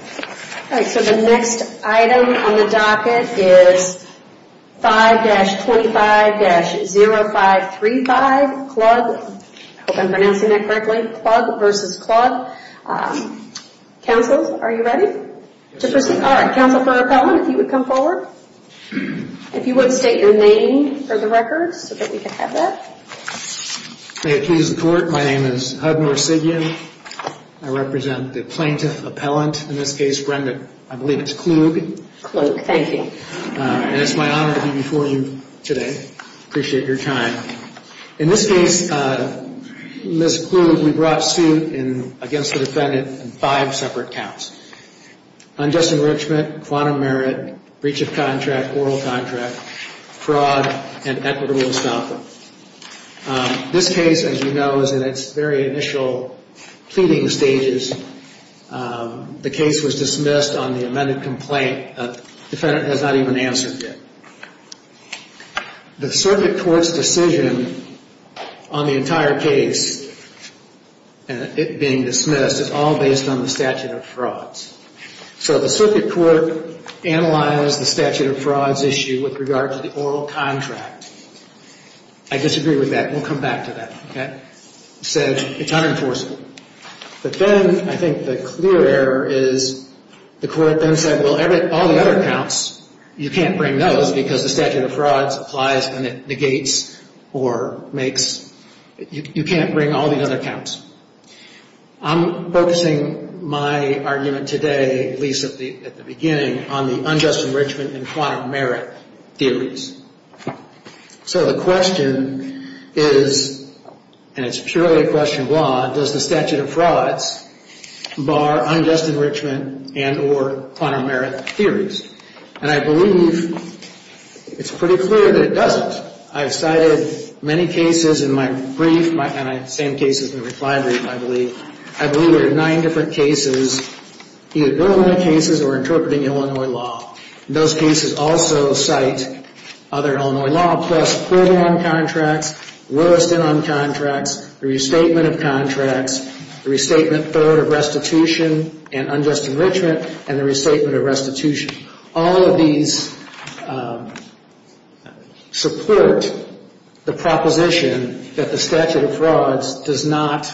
All right, so the next item on the docket is 5-25-0535 Klug. I hope I'm pronouncing that correctly. Klug v. Klug. Counsel, are you ready to proceed? All right, Counsel for Appellant, if you would come forward. If you would state your name for the record so that we can have that. May it please the Court, my name is Hud Morsigian. I represent the Plaintiff Appellant. In this case, Brenda, I believe it's Klug. Klug, thank you. And it's my honor to be before you today. Appreciate your time. In this case, Ms. Klug, we brought suit against the defendant in five separate counts. Unjust enrichment, quantum merit, breach of contract, oral contract, fraud, and equitable installment. This case, as you know, is in its very initial pleading stages. The case was dismissed on the amended complaint. The defendant has not even answered yet. The circuit court's decision on the entire case, it being dismissed, is all based on the statute of frauds. So the circuit court analyzed the statute of frauds issue with regard to the oral contract. I disagree with that. We'll come back to that. It's unenforceable. But then I think the clear error is the court then said, well, all the other counts, you can't bring those because the statute of frauds applies and it negates or makes, you can't bring all the other counts. I'm focusing my argument today, at least at the beginning, on the unjust enrichment and quantum merit theories. So the question is, and it's purely a question of law, does the statute of frauds bar unjust enrichment and or quantum merit theories? And I believe it's pretty clear that it doesn't. I've cited many cases in my brief, and I have the same cases in my reply brief, I believe. I believe there are nine different cases, either government cases or interpreting Illinois law. Those cases also cite other Illinois law, plus poor bond contracts, lowest in on contracts, restatement of contracts, restatement third of restitution and unjust enrichment, and the restatement of restitution. All of these support the proposition that the statute of frauds does not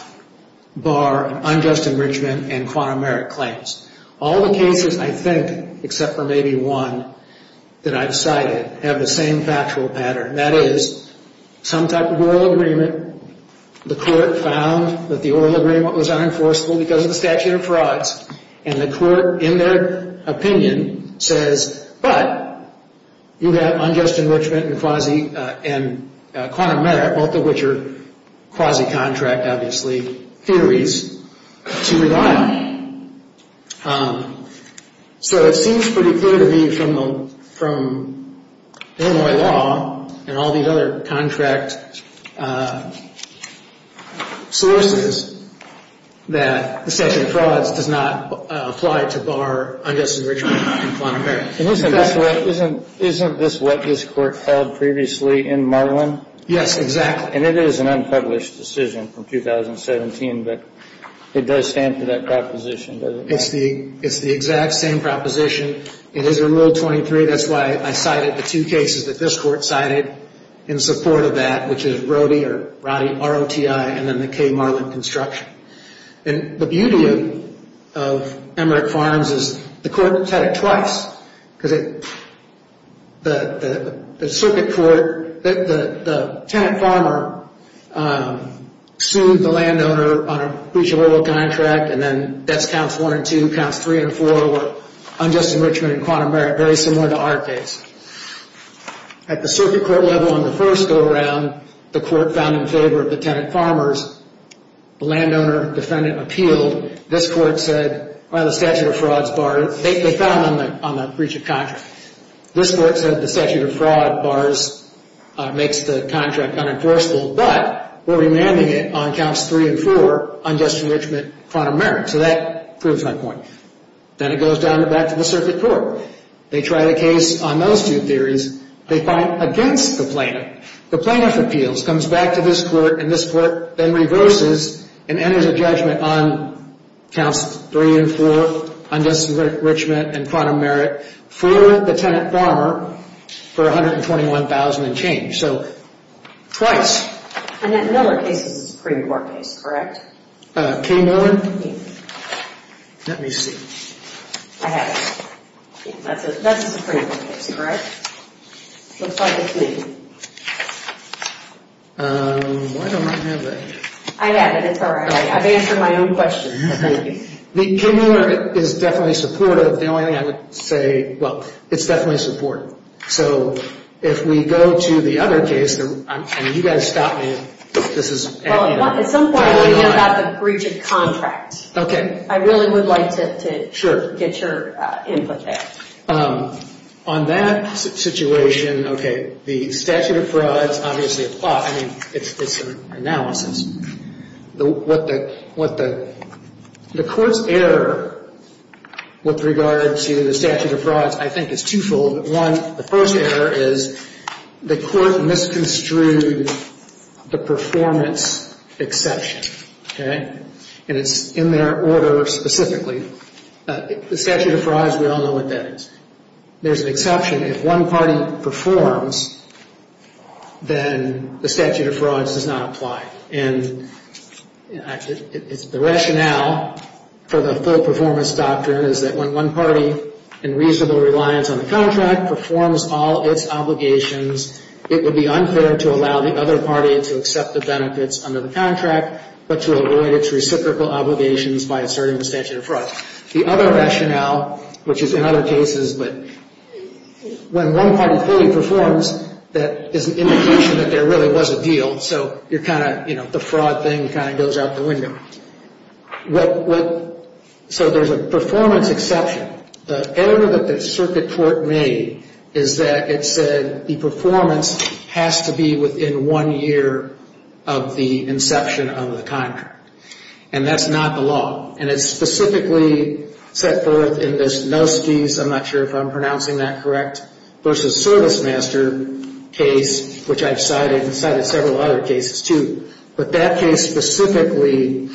bar unjust enrichment and quantum merit claims. All the cases I think, except for maybe one, that I've cited have the same factual pattern. That is, some type of oral agreement, the court found that the oral agreement was unenforceable because of the statute of frauds, and the court, in their opinion, says, but you have unjust enrichment and quantum merit, both of which are quasi-contract, obviously, theories to rely on. So it seems pretty clear to me from Illinois law and all these other contract sources that the statute of frauds does not apply to bar unjust enrichment and quantum merit. Isn't this what this court held previously in Marlin? Yes, exactly. And it is an unpublished decision from 2017, but it does stand for that proposition, doesn't it? It's the exact same proposition. It is removed 23. That's why I cited the two cases that this court cited in support of that, which is Roddy, R-O-T-I, and then the K. Marlin construction. And the beauty of Emmerich Farms is the court has had it twice, because the circuit court, the tenant farmer sued the landowner on a breach of oral contract, and then that's counts one and two, counts three and four were unjust enrichment and quantum merit, very similar to our case. At the circuit court level on the first go-around, the court found in favor of the tenant farmers. The landowner defendant appealed. This court said, well, the statute of frauds barred it. They found on the breach of contract. This court said the statute of fraud bars, makes the contract unenforceable, but we're remanding it on counts three and four, unjust enrichment, quantum merit. So that proves my point. Then it goes down the back to the circuit court. They tried a case on those two theories. They find against the plaintiff. The plaintiff appeals, comes back to this court, and this court then reverses and enters a judgment on counts three and four, unjust enrichment and quantum merit, for the tenant farmer for $121,000 and change. So twice. And that Miller case is a Supreme Court case, correct? Kay Miller? Yes. Let me see. I have it. That's a Supreme Court case, correct? Looks like it's me. Why don't I have it? I have it. It's all right. I've answered my own questions. Kay Miller is definitely supportive. The only thing I would say, well, it's definitely supportive. So if we go to the other case, and you guys stop me, this is. Well, at some point we'll hear about the breach of contract. Okay. I really would like to get your input there. On that situation, okay, the statute of frauds obviously applies. I mean, it's an analysis. What the court's error with regard to the statute of frauds I think is twofold. One, the first error is the court misconstrued the performance exception, okay? And it's in their order specifically. The statute of frauds, we all know what that is. There's an exception. If one party performs, then the statute of frauds does not apply. And the rationale for the full performance doctrine is that when one party, in reasonable reliance on the contract, performs all its obligations, it would be unfair to allow the other party to accept the benefits under the contract, but to avoid its reciprocal obligations by asserting the statute of frauds. The other rationale, which is in other cases, but when one party fully performs, that is an indication that there really was a deal. So you're kind of, you know, the fraud thing kind of goes out the window. So there's a performance exception. The error that the circuit court made is that it said the performance has to be within one year of the inception of the contract. And that's not the law. And it's specifically set forth in this Nostes, I'm not sure if I'm pronouncing that correct, versus ServiceMaster case, which I've cited and cited several other cases, too. But that case specifically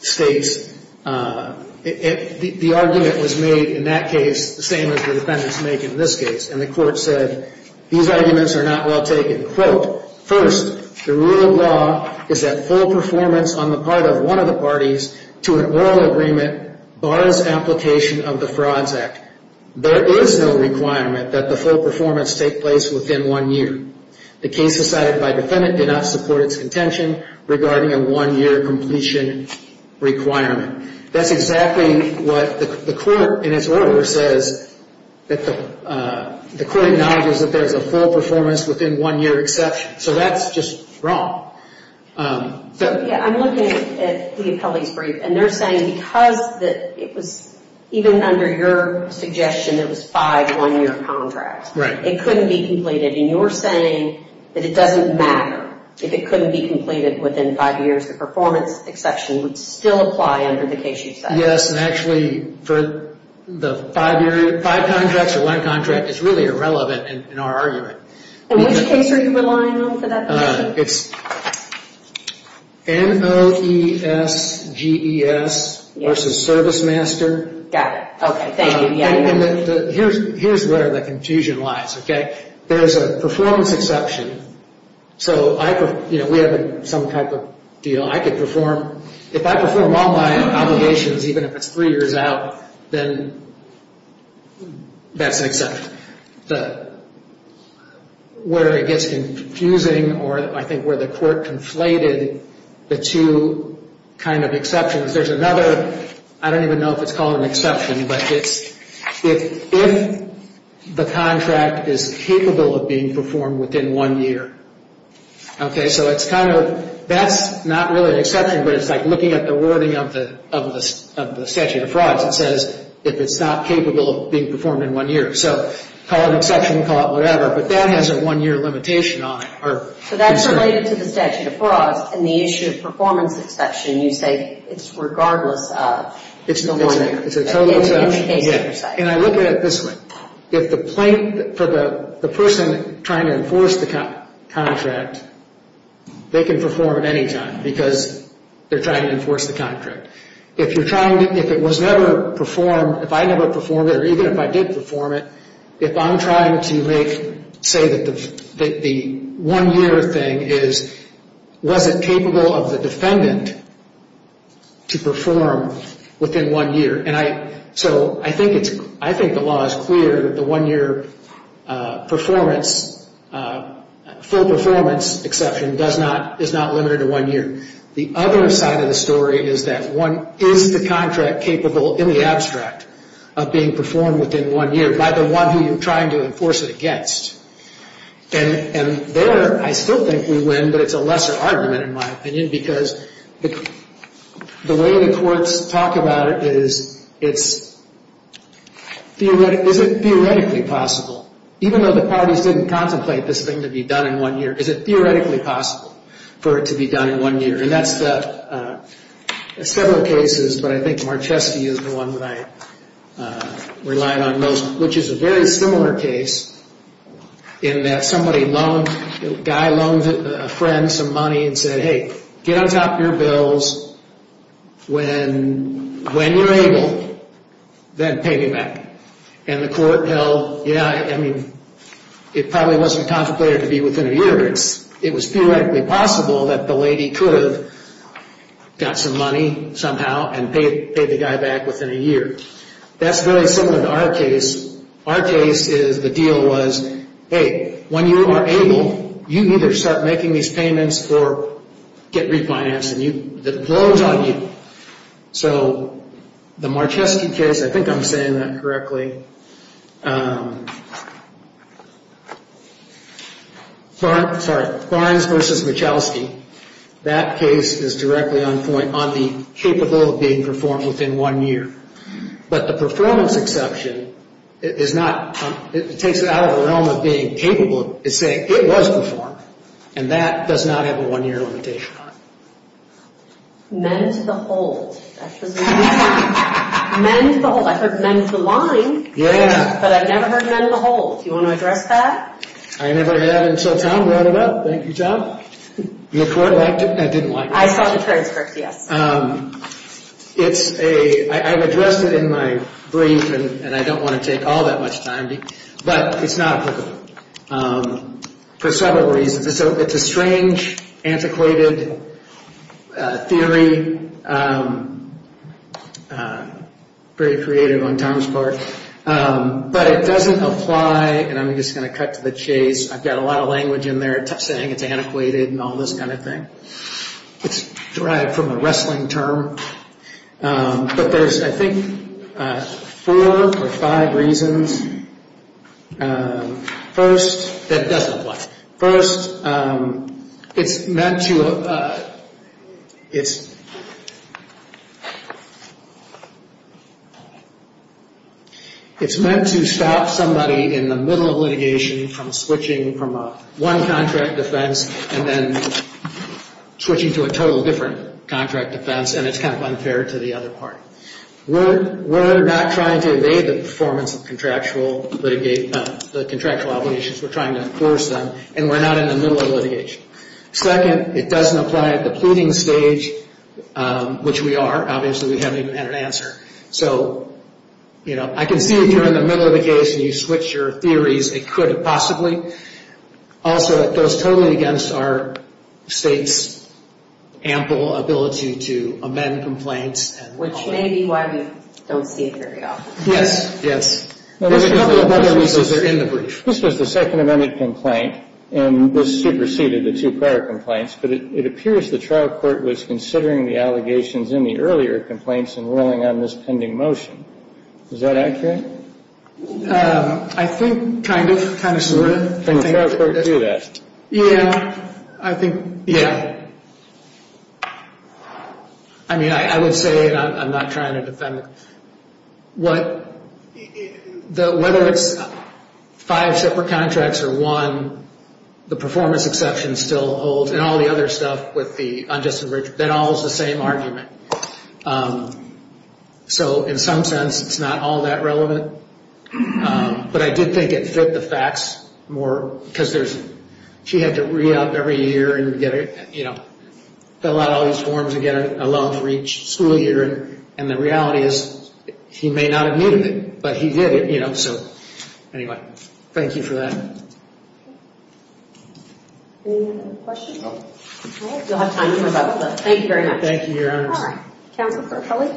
states the argument was made in that case the same as the defendants make in this case. And the court said, these arguments are not well taken. Quote, first, the rule of law is that full performance on the part of one of the parties to an oral agreement bars application of the Frauds Act. There is no requirement that the full performance take place within one year. The case decided by defendant did not support its contention regarding a one-year completion requirement. That's exactly what the court, in its order, says that the court acknowledges that there's a full performance within one-year exception. So that's just wrong. Yeah, I'm looking at the appellee's brief, and they're saying because it was even under your suggestion it was five one-year contracts. Right. It couldn't be completed. And you're saying that it doesn't matter if it couldn't be completed within five years. The performance exception would still apply under the case you said. Yes, and actually for the five-year, five contracts or one contract is really irrelevant in our argument. And which case are you relying on for that? It's N-O-E-S-G-E-S versus ServiceMaster. Got it. Okay, thank you. And here's where the confusion lies, okay? There's a performance exception. So we have some type of deal. If I perform all my obligations, even if it's three years out, then that's an exception. Where it gets confusing, or I think where the court conflated the two kind of exceptions, there's another, I don't even know if it's called an exception, but it's if the contract is capable of being performed within one year. Okay, so it's kind of, that's not really an exception, but it's like looking at the wording of the statute of frauds. It says if it's not capable of being performed in one year. So call it an exception, call it whatever, but that has a one-year limitation on it. So that's related to the statute of frauds and the issue of performance exception. You say it's regardless of the wording. It's a total exception. And I look at it this way. If the person trying to enforce the contract, they can perform at any time because they're trying to enforce the contract. If you're trying to, if it was never performed, if I never performed it, or even if I did perform it, if I'm trying to make, say that the one-year thing is, was it capable of the defendant to perform within one year? And I, so I think it's, I think the law is clear that the one-year performance, full performance exception does not, is not limited to one year. The other side of the story is that one, is the contract capable in the abstract of being performed within one year? By the one who you're trying to enforce it against. And there, I still think we win, but it's a lesser argument in my opinion because the way the courts talk about it is, it's, is it theoretically possible? Even though the parties didn't contemplate this thing to be done in one year, is it theoretically possible for it to be done in one year? And that's the, several cases, but I think Marchesti is the one that I relied on most. Which is a very similar case in that somebody loaned, a guy loaned a friend some money and said, hey, get on top of your bills when, when you're able, then pay me back. And the court held, yeah, I mean, it probably wasn't contemplated to be within a year. It's, it was theoretically possible that the lady could have got some money somehow and paid, paid the guy back within a year. That's very similar to our case. Our case is, the deal was, hey, when you are able, you either start making these payments or get refinanced and you, it blows on you. So the Marchesti case, I think I'm saying that correctly. Okay. Barnes, sorry, Barnes versus Marchesti. That case is directly on point, on the capable of being performed within one year. But the performance exception is not, it takes it out of the realm of being capable of saying it was performed. And that does not have a one year limitation on it. Men to the hold. Men to the hold. I heard men to the line. But I've never heard men to the hold. Do you want to address that? I never had until Tom brought it up. Thank you, Tom. The court liked it. I didn't like it. I saw the transcript, yes. It's a, I've addressed it in my brief and I don't want to take all that much time. But it's not applicable for several reasons. It's a strange, antiquated theory, very creative on Tom's part. But it doesn't apply, and I'm just going to cut to the chase. I've got a lot of language in there saying it's antiquated and all this kind of thing. It's derived from a wrestling term. But there's I think four or five reasons. First, that it doesn't apply. First, it's meant to stop somebody in the middle of litigation from switching from one contract defense and then switching to a totally different contract defense, and it's kind of unfair to the other party. We're not trying to evade the performance of contractual obligations. We're trying to enforce them, and we're not in the middle of litigation. Second, it doesn't apply at the pleading stage, which we are. Obviously, we haven't even had an answer. So I can see if you're in the middle of the case and you switch your theories, it could possibly. Also, it goes totally against our state's ample ability to amend complaints. Which may be why we don't see it very often. Yes, yes. There's a couple of other reasons that are in the brief. This was the second amended complaint, and this superseded the two prior complaints. But it appears the trial court was considering the allegations in the earlier complaints and ruling on this pending motion. Is that accurate? I think kind of, kind of sort of. And the trial court knew that. Yeah, I think, yeah. I mean, I would say, and I'm not trying to defend it. Whether it's five separate contracts or one, the performance exception still holds. And all the other stuff with the unjustified enrichment, that all is the same argument. So in some sense, it's not all that relevant. But I did think it fit the facts more. Because she had to re-up every year and fill out all these forms and get a loan for each school year. And the reality is, he may not have needed it, but he did it, you know. So anyway, thank you for that. Any other questions? No. All right. You'll have time for those. Thank you very much. Thank you, Your Honor. All right. Counsel for Kelly?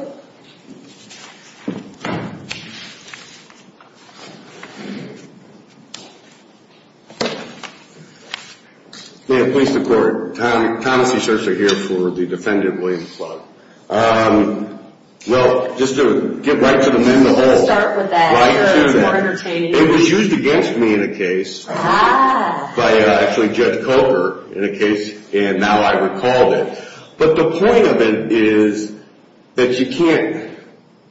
Yeah, police and court. Thomas C. Scherzer here for the Defendant Williams Club. Well, just to get right to the middle. Let's start with that. Right to that. It was used against me in a case. Ah. By actually Judge Coker in a case, and now I recalled it. But the point of it is that you can't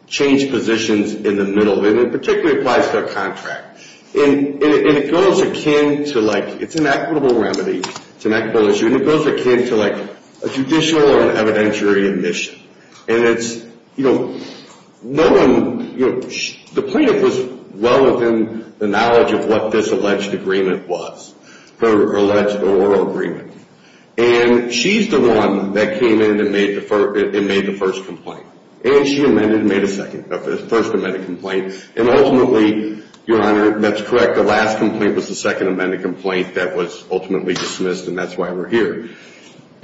change positions in the middle. And it particularly applies to a contract. And it goes akin to like, it's an equitable remedy. It's an equitable issue. And it goes akin to like a judicial and evidentiary admission. And it's, you know, no one, you know, the plaintiff was well within the knowledge of what this alleged agreement was. Her alleged oral agreement. And she's the one that came in and made the first complaint. And she amended and made a second, first amended complaint. And ultimately, Your Honor, that's correct. The last complaint was the second amended complaint that was ultimately dismissed. And that's why we're here.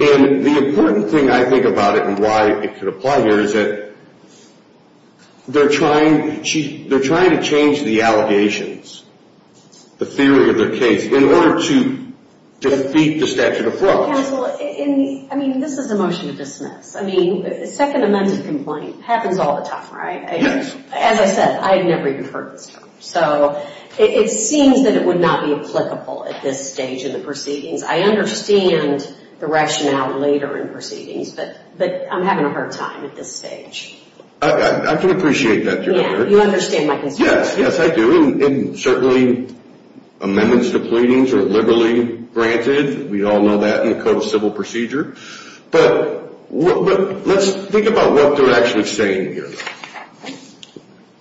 And the important thing, I think, about it and why it could apply here is that they're trying to change the allegations, the theory of their case, in order to defeat the statute of flaws. Counsel, I mean, this is a motion to dismiss. I mean, a second amended complaint happens all the time, right? Yes. As I said, I had never even heard this term. So it seems that it would not be applicable at this stage in the proceedings. I understand the rationale later in proceedings. But I'm having a hard time at this stage. I can appreciate that, Your Honor. Yeah, you understand my concern. Yes, yes, I do. And certainly amendments to pleadings are liberally granted. We all know that in the Code of Civil Procedure. But let's think about what they're actually saying here.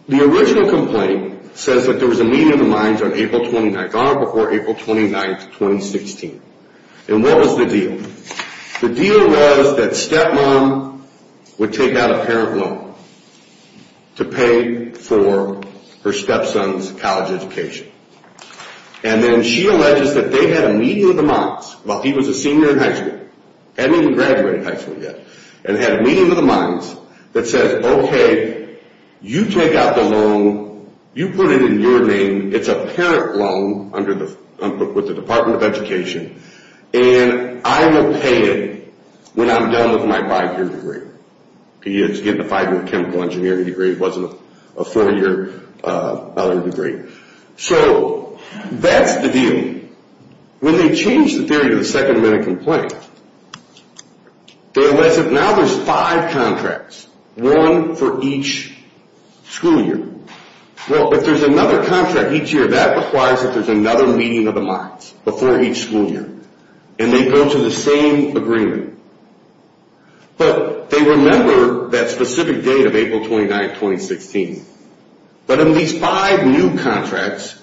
The original complaint says that there was a meeting of the minds on April 29th, Your Honor, before April 29th, 2016. And what was the deal? The deal was that stepmom would take out a parent loan to pay for her stepson's college education. And then she alleges that they had a meeting of the minds while he was a senior in high school. Hadn't even graduated high school yet. And had a meeting of the minds that says, okay, you take out the loan. You put it in your name. It's a parent loan with the Department of Education. And I will pay it when I'm done with my five-year degree. He had to get a five-year chemical engineering degree. It wasn't a four-year other degree. So that's the deal. When they change the theory to the second amendment complaint, they allege that now there's five contracts. One for each school year. Well, if there's another contract each year, that implies that there's another meeting of the minds before each school year. And they go to the same agreement. But they remember that specific date of April 29th, 2016. But in these five new contracts,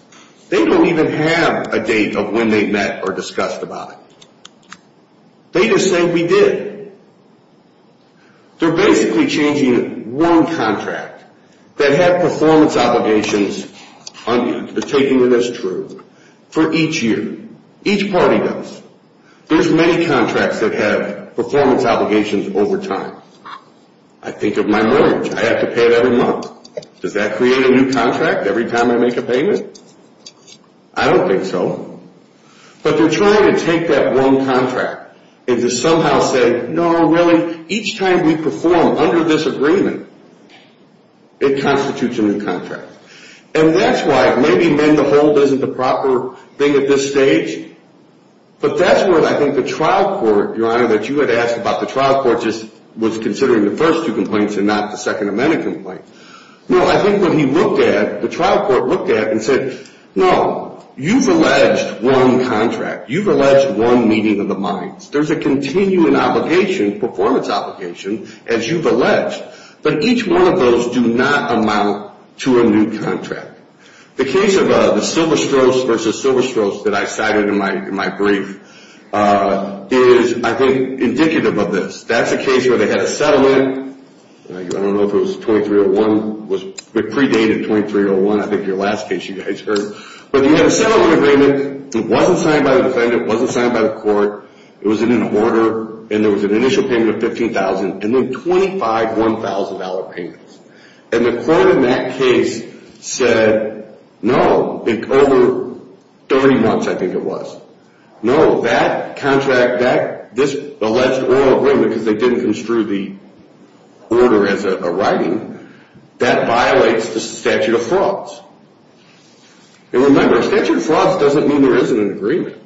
they don't even have a date of when they met or discussed about it. They just say, we did. They're basically changing one contract that had performance obligations, taking it as true, for each year. Each party does. There's many contracts that have performance obligations over time. I think of my mortgage. I have to pay it every month. Does that create a new contract every time I make a payment? I don't think so. But they're trying to take that one contract and to somehow say, no, really, each time we perform under this agreement, it constitutes a new contract. And that's why maybe mend the hold isn't the proper thing at this stage. But that's what I think the trial court, Your Honor, that you had asked about the trial court, just was considering the first two complaints and not the Second Amendment complaint. No, I think what he looked at, the trial court looked at and said, no, you've alleged one contract. You've alleged one meeting of the minds. There's a continuing obligation, performance obligation, as you've alleged. But each one of those do not amount to a new contract. The case of the silver strokes versus silver strokes that I cited in my brief is, I think, indicative of this. That's a case where they had a settlement. I don't know if it was 2301. It was predated 2301. I think your last case you guys heard. But they had a settlement agreement. It wasn't signed by the defendant. It wasn't signed by the court. It was in an order. And there was an initial payment of $15,000 and then $25,000, $1,000 payments. And the court in that case said, no, over 30 months, I think it was. No, that contract, this alleged oral agreement, because they didn't construe the order as a writing, that violates the statute of frauds. And remember, statute of frauds doesn't mean there isn't an agreement.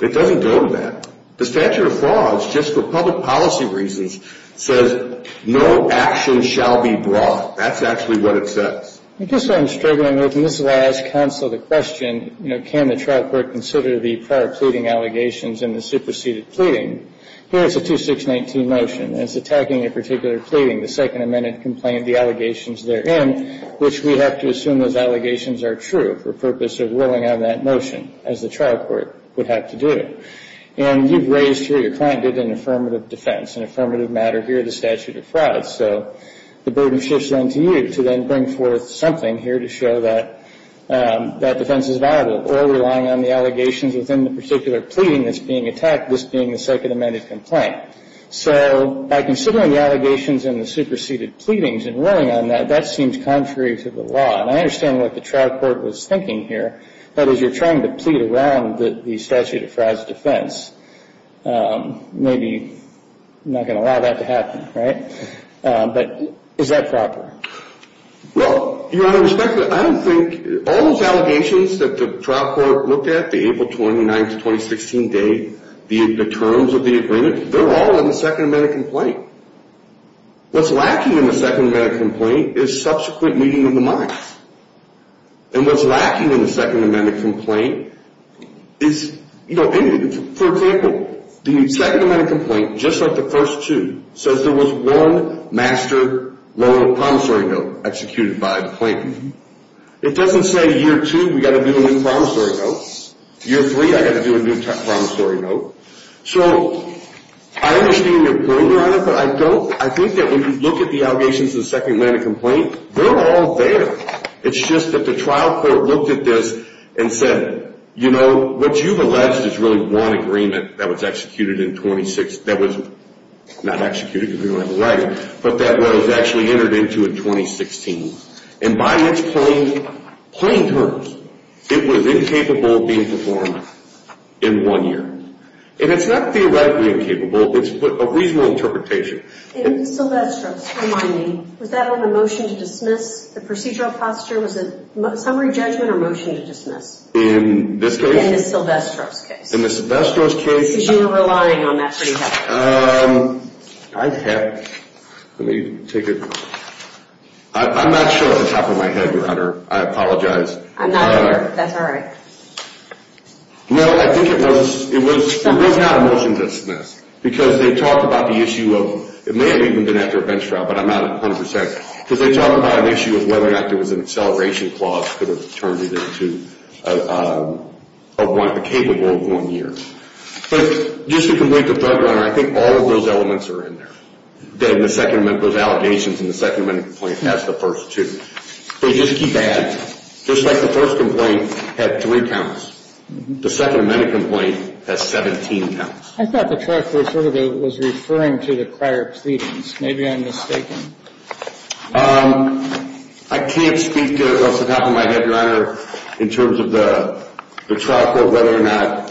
It doesn't go to that. The statute of frauds, just for public policy reasons, says no action shall be brought. That's actually what it says. I guess what I'm struggling with, and this is why I ask counsel the question, you know, can the trial court consider the prior pleading allegations in the superseded pleading? Here's a 2619 motion. It's attacking a particular pleading, the Second Amendment complaint, the allegations therein, which we have to assume those allegations are true for purpose of ruling on that motion, as the trial court would have to do. And you've raised here, your client did an affirmative defense, an affirmative matter here, the statute of frauds. So the burden shifts then to you to then bring forth something here to show that that defense is viable, or relying on the allegations within the particular pleading that's being attacked, this being the Second Amendment complaint. So by considering the allegations in the superseded pleadings and ruling on that, that seems contrary to the law. And I understand what the trial court was thinking here, that as you're trying to plead around the statute of frauds defense, maybe you're not going to allow that to happen, right? But is that proper? Well, Your Honor, I don't think all those allegations that the trial court looked at, the April 29th to 2016 date, the terms of the agreement, they're all in the Second Amendment complaint. What's lacking in the Second Amendment complaint is subsequent meeting of the minds. And what's lacking in the Second Amendment complaint is, you know, for example, the Second Amendment complaint, just like the first two, says there was one master loan of promissory note executed by the plaintiff. It doesn't say year two, we've got to do a new promissory note. Year three, I've got to do a new promissory note. So I understand your point, Your Honor, but I think that when you look at the allegations in the Second Amendment complaint, they're all there. It's just that the trial court looked at this and said, you know, what you've alleged is really one agreement that was executed in 2016, that was not executed because we don't have a right, but that was actually entered into in 2016. And by its plain terms, it was incapable of being performed in one year. And it's not theoretically incapable. It's a reasonable interpretation. In Ms. Silvestro's case, remind me, was that on a motion to dismiss? The procedural posture was a summary judgment or motion to dismiss? In this case? In Ms. Silvestro's case. In Ms. Silvestro's case? Because you were relying on that pretty heavily. I have, let me take a, I'm not sure off the top of my head, Your Honor. I apologize. I'm not either. That's all right. No, I think it was, it was, it was not a motion to dismiss because they talked about the issue of, it may have even been after a bench trial, but I'm not 100 percent, because they talked about an issue of whether or not there was an acceleration clause that could have turned it into a one, a capable one year. But just to complete the third one, I think all of those elements are in there. Then the second amendment, those allegations in the second amendment complaint has the first two. They just keep adding. Just like the first complaint had three counts, the second amendment complaint has 17 counts. I thought the trial court sort of was referring to the prior proceedings. Maybe I'm mistaken. I can't speak to it off the top of my head, Your Honor, in terms of the trial court, whether or not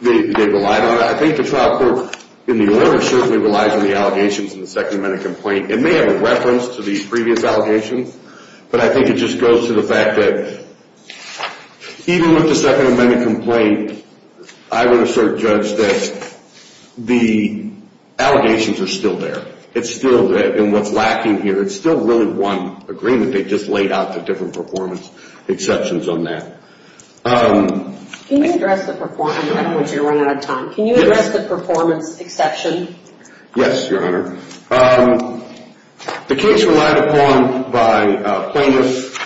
they relied on it. I think the trial court in the order certainly relies on the allegations in the second amendment complaint. It may have a reference to these previous allegations, but I think it just goes to the fact that even with the second amendment complaint, I would assert, judge, that the allegations are still there. It's still there. And what's lacking here, it's still really one agreement. They just laid out the different performance exceptions on that. Can you address the performance? I don't want you to run out of time. Can you address the performance exception? Yes, Your Honor. The case relied upon by plaintiffs,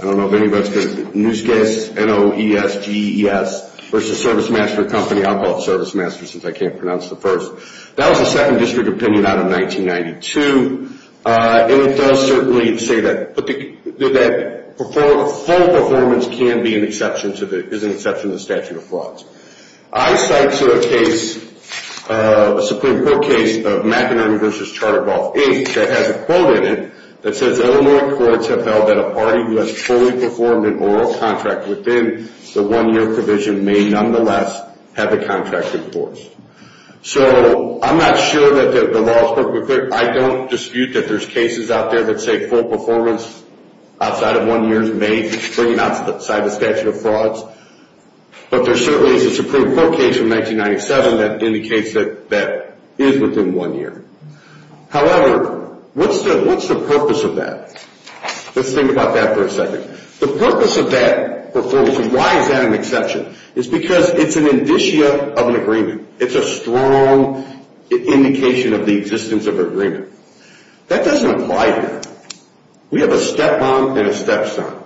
I don't know if anybody's heard of the news case, N-O-E-S-G-E-S versus Service Master Company. I'll call it Service Master since I can't pronounce the first. That was a second district opinion out of 1992. And it does certainly say that a full performance can be an exception to the statute of frauds. I cite to a case, a Supreme Court case of McInerney versus Charter Golf Inc. that has a quote in it that says Illinois courts have held that a party who has fully performed an oral contract within the one-year provision may nonetheless have the contract enforced. So I'm not sure that the law is perfectly clear. I don't dispute that there's cases out there that say full performance outside of one year is made, bringing it outside the statute of frauds. But there certainly is a Supreme Court case from 1997 that indicates that that is within one year. However, what's the purpose of that? Let's think about that for a second. The purpose of that performance, and why is that an exception, is because it's an indicia of an agreement. It's a strong indication of the existence of an agreement. That doesn't apply here. We have a step-mom and a step-son.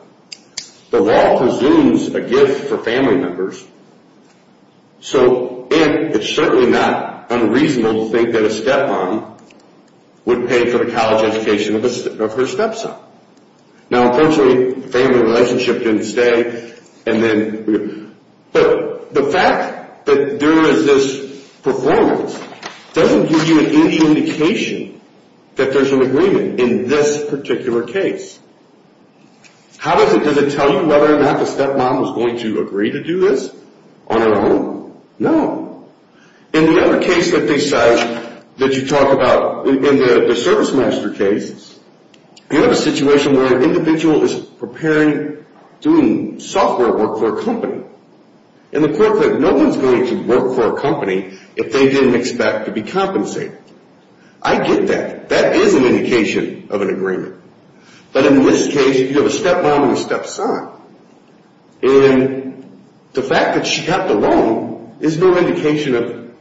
The law presumes a gift for family members. So it's certainly not unreasonable to think that a step-mom would pay for the college education of her step-son. Now, unfortunately, the family relationship didn't stay. But the fact that there is this performance doesn't give you any indication that there's an agreement in this particular case. How does it tell you whether or not the step-mom was going to agree to do this on her own? No. In the other case that you talk about, in the service master case, you have a situation where an individual is preparing, doing software work for a company, and the court said no one's going to work for a company if they didn't expect to be compensated. I get that. That is an indication of an agreement. But in this case, you have a step-mom and a step-son. And the fact that she got the loan is no indication of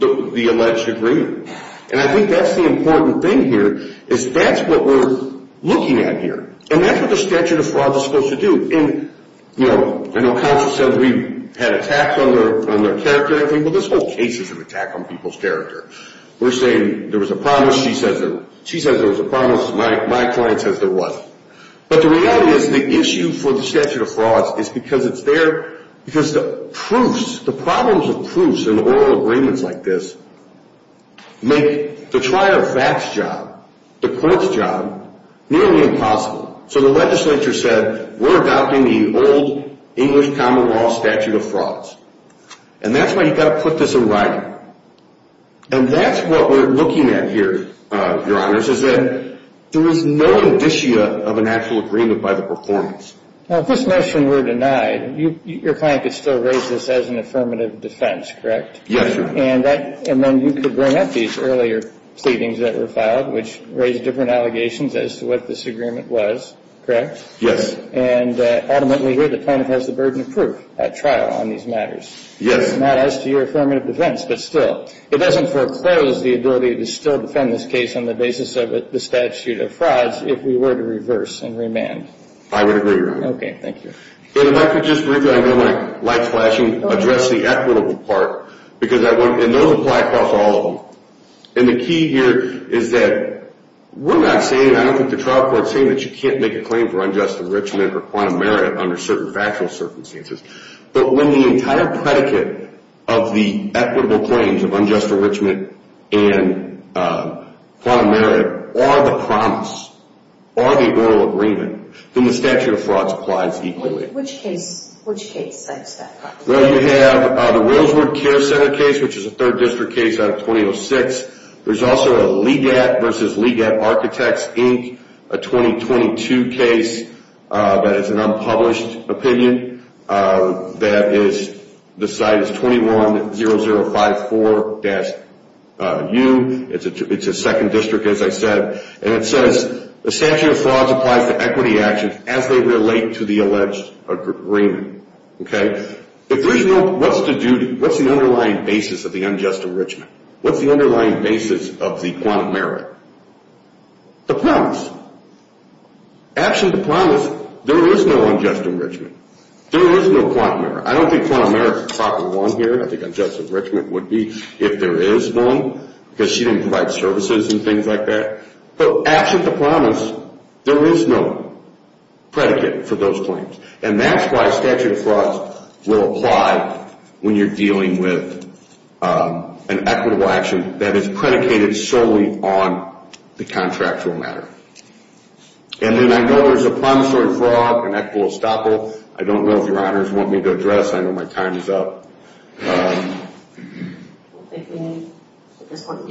the alleged agreement. And I think that's the important thing here is that's what we're looking at here. And that's what the statute of fraud is supposed to do. And, you know, I know counsel said we had attacks on their character. I think, well, this whole case is an attack on people's character. We're saying there was a promise. She says there was a promise. My client says there wasn't. But the reality is the issue for the statute of fraud is because it's there, because the proofs, the problems with proofs in oral agreements like this make the trial of facts job, the court's job, nearly impossible. So the legislature said we're adopting the old English common law statute of frauds. And that's why you've got to put this in writing. And that's what we're looking at here, Your Honors, is that there is no indicia of an actual agreement by the performance. Now, if this motion were denied, your client could still raise this as an affirmative defense, correct? Yes, Your Honor. And then you could bring up these earlier pleadings that were filed, which raised different allegations as to what this agreement was, correct? Yes. And ultimately here the client has the burden of proof at trial on these matters. Yes. Not as to your affirmative defense, but still. It doesn't foreclose the ability to still defend this case on the basis of the statute of frauds if we were to reverse and remand. I would agree, Your Honor. Okay, thank you. And if I could just briefly, I know my light's flashing, address the equitable part. And those apply across all of them. And the key here is that we're not saying, I don't think the trial court's saying that you can't make a claim for unjust enrichment or quantum merit under certain factual circumstances. But when the entire predicate of the equitable claims of unjust enrichment and quantum merit are the promise, are the oral agreement, then the statute of frauds applies equally. Which case? Which case? Well, you have the Willsward Care Center case, which is a third district case out of 2006. There's also a Legat v. Legat Architects, Inc., a 2022 case that is an unpublished opinion. That is, the site is 210054-U. It's a second district, as I said. And it says the statute of frauds applies to equity actions as they relate to the alleged agreement. Okay? If there's no, what's the underlying basis of the unjust enrichment? What's the underlying basis of the quantum merit? The promise. Absent the promise, there is no unjust enrichment. There is no quantum merit. I don't think quantum merit is a proper one here. I think unjust enrichment would be if there is one because she didn't provide services and things like that. But absent the promise, there is no predicate for those claims. And that's why statute of frauds will apply when you're dealing with an equitable action that is predicated solely on the contractual matter. And then I know there's a promissory fraud, an equitable estoppel. I don't know if your honors want me to address. I know my time is up. Do you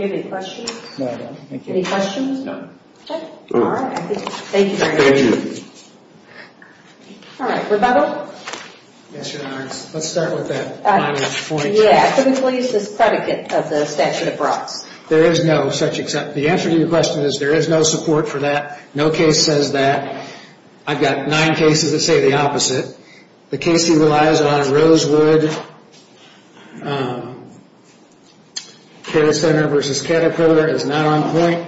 have any questions? No, I don't. Any questions? No. Okay. All right. Thank you very much. Thank you. All right. Rebuttal? Yes, your honors. Let's start with that. Yeah, typically it's this predicate of the statute of frauds. There is no such exception. The answer to your question is there is no support for that. No case says that. I've got nine cases that say the opposite. The case he relies on, Rosewood Care Center v. Caterpillar, is not on point.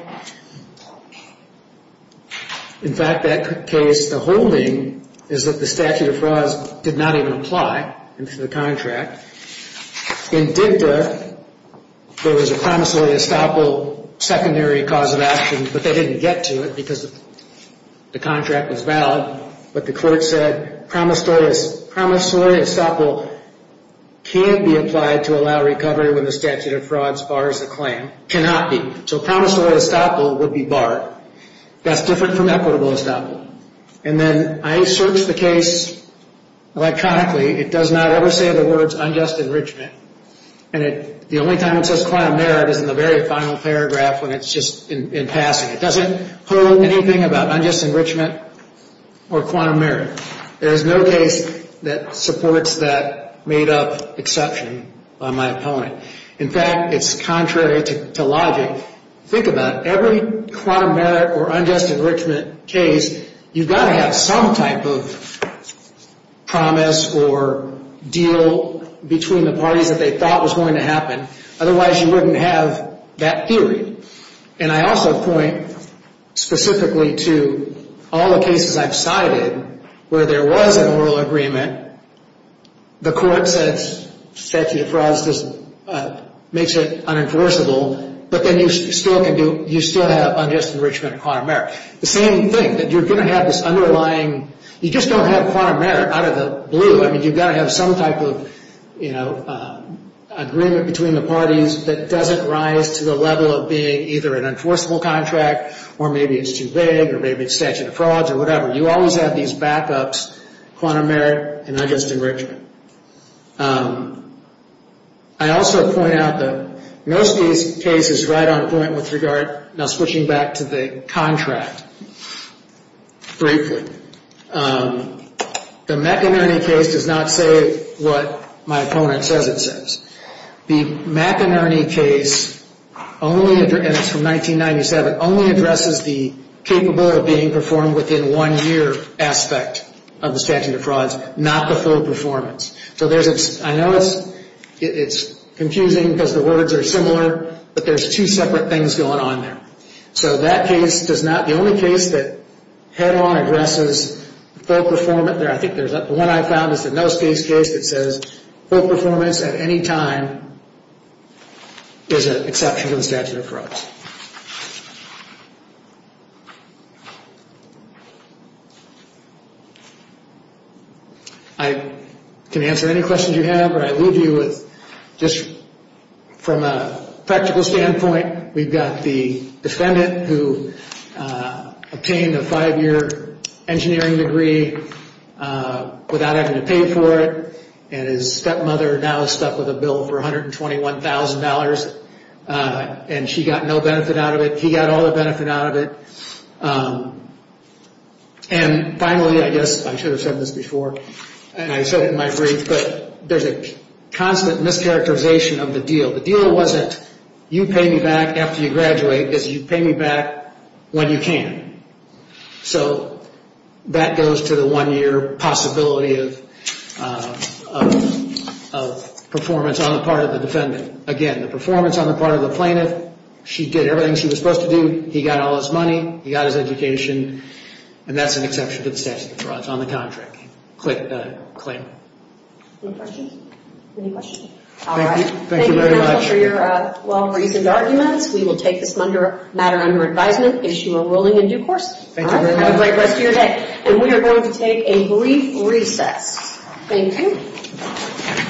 In fact, that case, the holding is that the statute of frauds did not even apply into the contract. In Digda, there was a promissory estoppel secondary cause of action, but they didn't get to it because the contract was valid. But the court said promissory estoppel can't be applied to allow recovery when the statute of frauds bars the claim, cannot be. So promissory estoppel would be barred. That's different from equitable estoppel. And then I search the case electronically. It does not ever say the words unjust enrichment. And the only time it says quantum merit is in the very final paragraph when it's just in passing. It doesn't hold anything about unjust enrichment or quantum merit. There is no case that supports that made-up exception by my opponent. In fact, it's contrary to logic. Think about it. Every quantum merit or unjust enrichment case, you've got to have some type of promise or deal between the parties that they thought was going to happen. Otherwise, you wouldn't have that theory. And I also point specifically to all the cases I've cited where there was an oral agreement. The court says statute of frauds makes it unenforceable, but then you still have unjust enrichment or quantum merit. The same thing, that you're going to have this underlying, you just don't have quantum merit out of the blue. I mean, you've got to have some type of agreement between the parties that doesn't rise to the level of being either an enforceable contract or maybe it's too big or maybe it's statute of frauds or whatever. You always have these backups, quantum merit and unjust enrichment. I also point out that most of these cases ride on a point with regard, now switching back to the contract, briefly. The McInerney case does not say what my opponent says it says. The McInerney case, and it's from 1997, only addresses the capable of being performed within one year aspect of the statute of frauds, not the full performance. I know it's confusing because the words are similar, but there's two separate things going on there. So that case does not, the only case that head-on addresses full performance, I think the one I found is the No Space case, that says full performance at any time is an exception to the statute of frauds. I can answer any questions you have, but I leave you with just from a practical standpoint, we've got the defendant who obtained a five-year engineering degree without having to pay for it, and his stepmother now is stuck with a bill for $121,000, and she got no benefit out of it. He got all the benefit out of it. And finally, I guess I should have said this before, and I said it in my brief, but there's a constant mischaracterization of the deal. The deal wasn't you pay me back after you graduate, it's you pay me back when you can. So that goes to the one-year possibility of performance on the part of the defendant. Again, the performance on the part of the plaintiff, she did everything she was supposed to do, he got all his money, he got his education, and that's an exception to the statute of frauds on the contract claim. Any questions? Thank you very much. Thank you for your well-reasoned arguments. We will take this matter under advisement, issue a ruling in due course, and have a great rest of your day. And we are going to take a brief recess. Thank you.